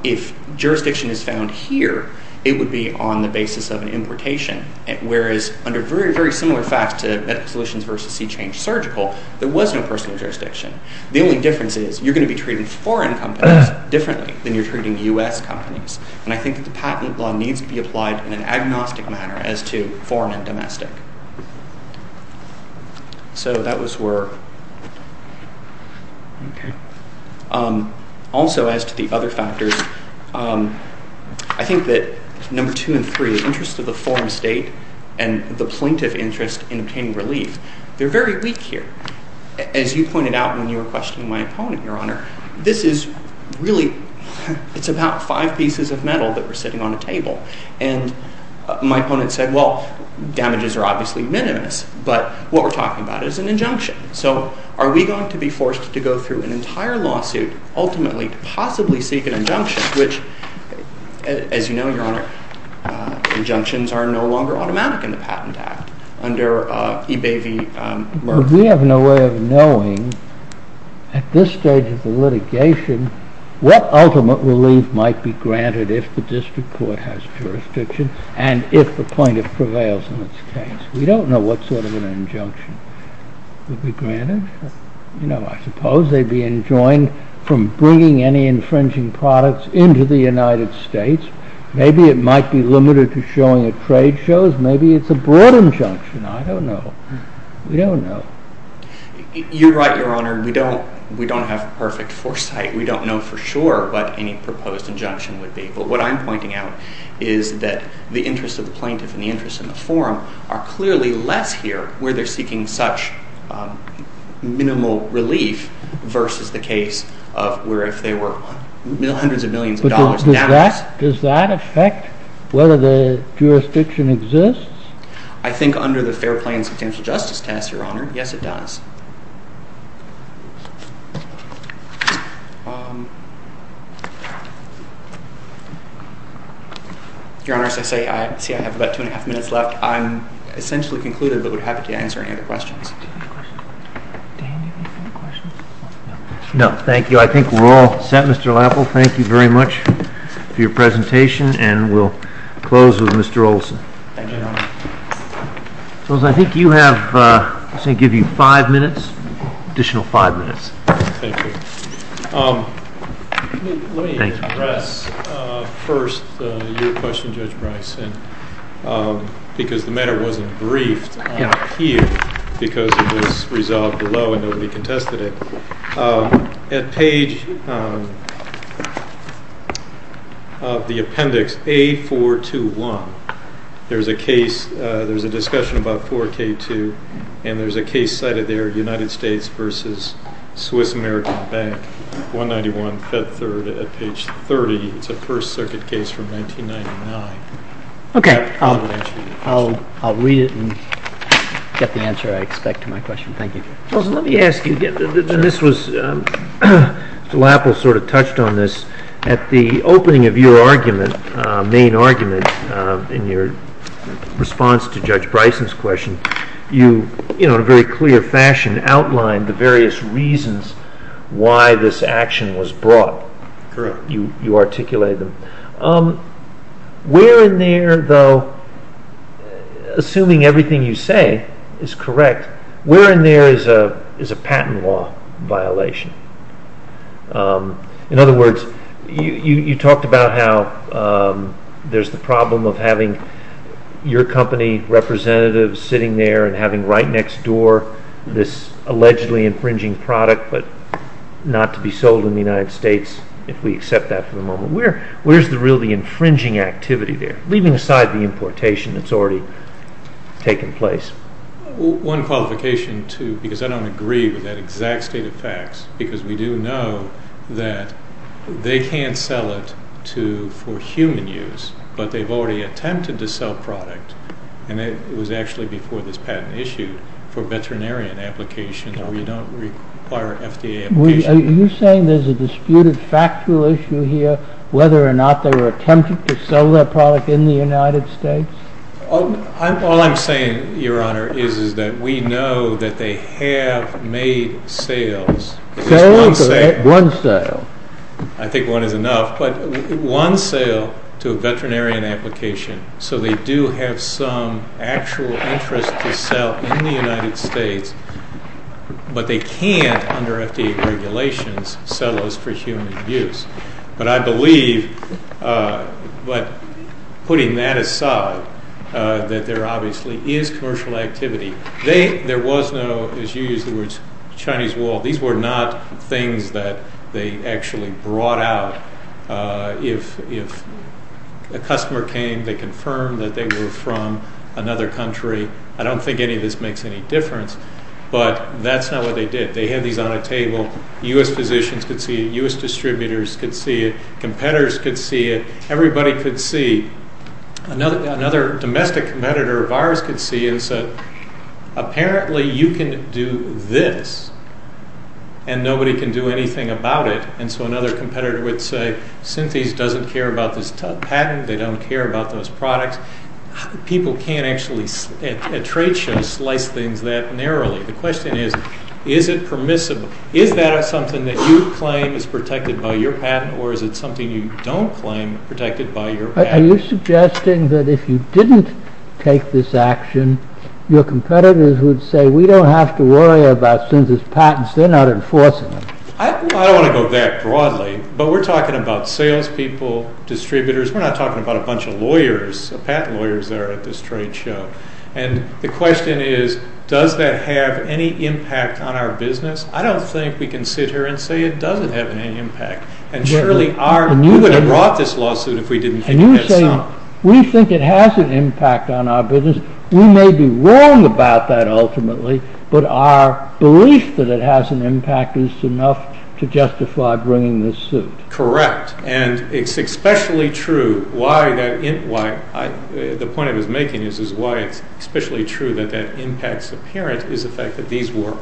if jurisdiction is found here, it would be on the basis of an importation, whereas under very, very similar facts to medical solutions v. C-Change surgical, there was no personal jurisdiction. The only difference is you're going to be treating foreign companies differently than you're treating U.S. companies, and I think the patent law needs to be applied in an agnostic manner as to foreign and domestic. So that was where... Okay. Also, as to the other factors, I think that number two and three, interest of the forum state and the plaintiff interest in obtaining relief, they're very weak here. As you pointed out when you were questioning my opponent, Your Honor, this is really... It's about five pieces of metal that were sitting on a table, and my opponent said, well, damages are obviously minimus, but what we're talking about is an injunction. So are we going to be forced to go through an entire lawsuit ultimately to possibly seek an injunction, which, as you know, Your Honor, injunctions are no longer automatic in the Patent Act under eBay v. Merck. We have no way of knowing at this stage of the litigation what ultimate relief might be granted if the district court has jurisdiction and if the plaintiff prevails in its case. We don't know what sort of an injunction would be granted. You know, I suppose they'd be enjoined from bringing any infringing products into the United States. Maybe it might be limited to showing at trade shows. Maybe it's a broad injunction. I don't know. We don't know. You're right, Your Honor. We don't have perfect foresight. We don't know for sure what any proposed injunction would be, but what I'm pointing out is that the interests of the plaintiff and the interests in the forum are clearly less here where they're seeking such minimal relief versus the case of where if they were hundreds of millions of dollars down... Does that affect whether the jurisdiction exists? I think under the Fair Plains Potential Justice test, Your Honor. Yes, it does. Your Honor, as I say, I have about two and a half minutes left. I'm essentially concluded, but would be happy to answer any other questions. No, thank you. I think we're all set, Mr. Lapple. Thank you very much for your presentation, and we'll close with Mr. Olson. Thank you, Your Honor. I think you have... I was going to give you five minutes, additional five minutes. Thank you. Let me address first your question, Judge Bryce, because the matter wasn't briefed here because it was resolved below and nobody contested it. At page... of the appendix A421, there's a case, there's a discussion about 4K2, and there's a case cited there, United States versus Swiss American Bank, 191, Fed Third, at page 30. It's a First Circuit case from 1999. Okay, I'll read it and get the answer I expect to my question. Thank you. Let me ask you, and this was... Mr. Lapple sort of touched on this. At the opening of your argument, main argument, in your response to Judge Bryson's question, you, in a very clear fashion, outlined the various reasons why this action was brought. Correct. You articulated them. Where in there, though, assuming everything you say is correct, where in there is a patent law violation? In other words, you talked about how there's the problem of having your company representatives sitting there and having right next door this allegedly infringing product but not to be sold in the United States, if we accept that for the moment. Where's the really infringing activity there, leaving aside the importation that's already taken place? One qualification, too, because I don't agree with that exact state of facts, because we do know that they can't sell it for human use, but they've already attempted to sell product, and it was actually before this patent issued, for veterinarian applications where you don't require FDA application. Are you saying there's a disputed factual issue here, whether or not they were attempting to sell their product in the United States? All I'm saying, Your Honor, is that we know that they have made sales. One sale. I think one is enough, but one sale to a veterinarian application, so they do have some actual interest to sell in the United States, but they can't, under FDA regulations, sell those for human use. But I believe, putting that aside, that there obviously is commercial activity. There was no, as you used the words, Chinese wall. These were not things that they actually brought out. If a customer came, they confirmed that they were from another country. I don't think any of this makes any difference, but that's not what they did. They had these on a table. U.S. physicians could see it. U.S. distributors could see it. Competitors could see it. Everybody could see. Another domestic competitor of ours could see it and said, apparently you can do this, and nobody can do anything about it. And so another competitor would say, Synthes doesn't care about this patent. They don't care about those products. People can't actually, at trade shows, slice things that narrowly. The question is, is it permissible? Is that something that you claim is protected by your patent or is it something you don't claim protected by your patent? Are you suggesting that if you didn't take this action, your competitors would say, we don't have to worry about Synthes' patents. They're not enforcing them. I don't want to go that broadly, but we're talking about sales people, distributors. We're not talking about a bunch of lawyers, patent lawyers that are at this trade show. And the question is, does that have any impact on our business? I don't think we can sit here and say it doesn't have any impact and surely we would have brought this lawsuit if we didn't think it had some. We think it has an impact on our business. We may be wrong about that ultimately, but our belief that it has an impact is enough to justify bringing this suit. Correct. And it's especially true, the point I was making is why it's especially true that that impact's apparent is the fact that these were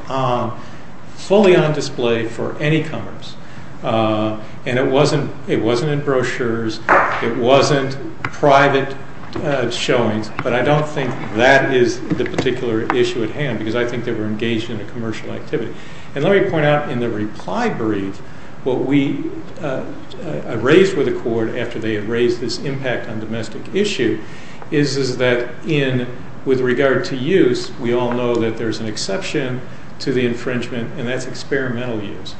fully on display for any comers. And it wasn't in brochures, it wasn't private showings, but I don't think that is the particular issue at hand because I think they were engaged in a commercial activity. And let me point out in the reply brief what we raised with the court after they had raised this impact on domestic issue is that with regard to use, we all know that there's an exception to the infringement and that's experimental use.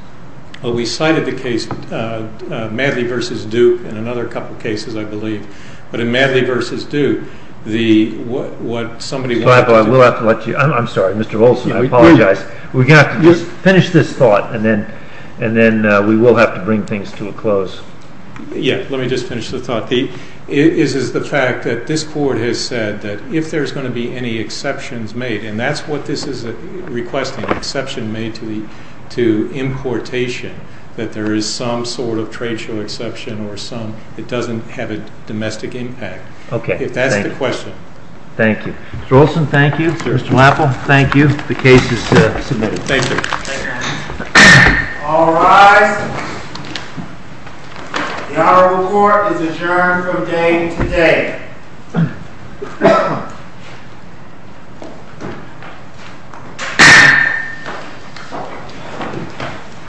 We cited the case Madley v. Duke in another couple of cases I believe, but in Madley v. Duke, what somebody... I'm sorry, Mr. Olson, I apologize. We're going to have to finish this thought and then we will have to bring things to a close. Yeah, let me just finish the thought. This is the fact that this court has said that if there's going to be any exceptions made and that's what this is requesting, an exception made to importation that there is some sort of trade show exception or some...it doesn't have a domestic impact. That's the question. Thank you. Mr. Olson, thank you. Mr. Lapple, thank you. The case is submitted. Thank you. All rise. The Honorable Court is adjourned from day to day. Thank you.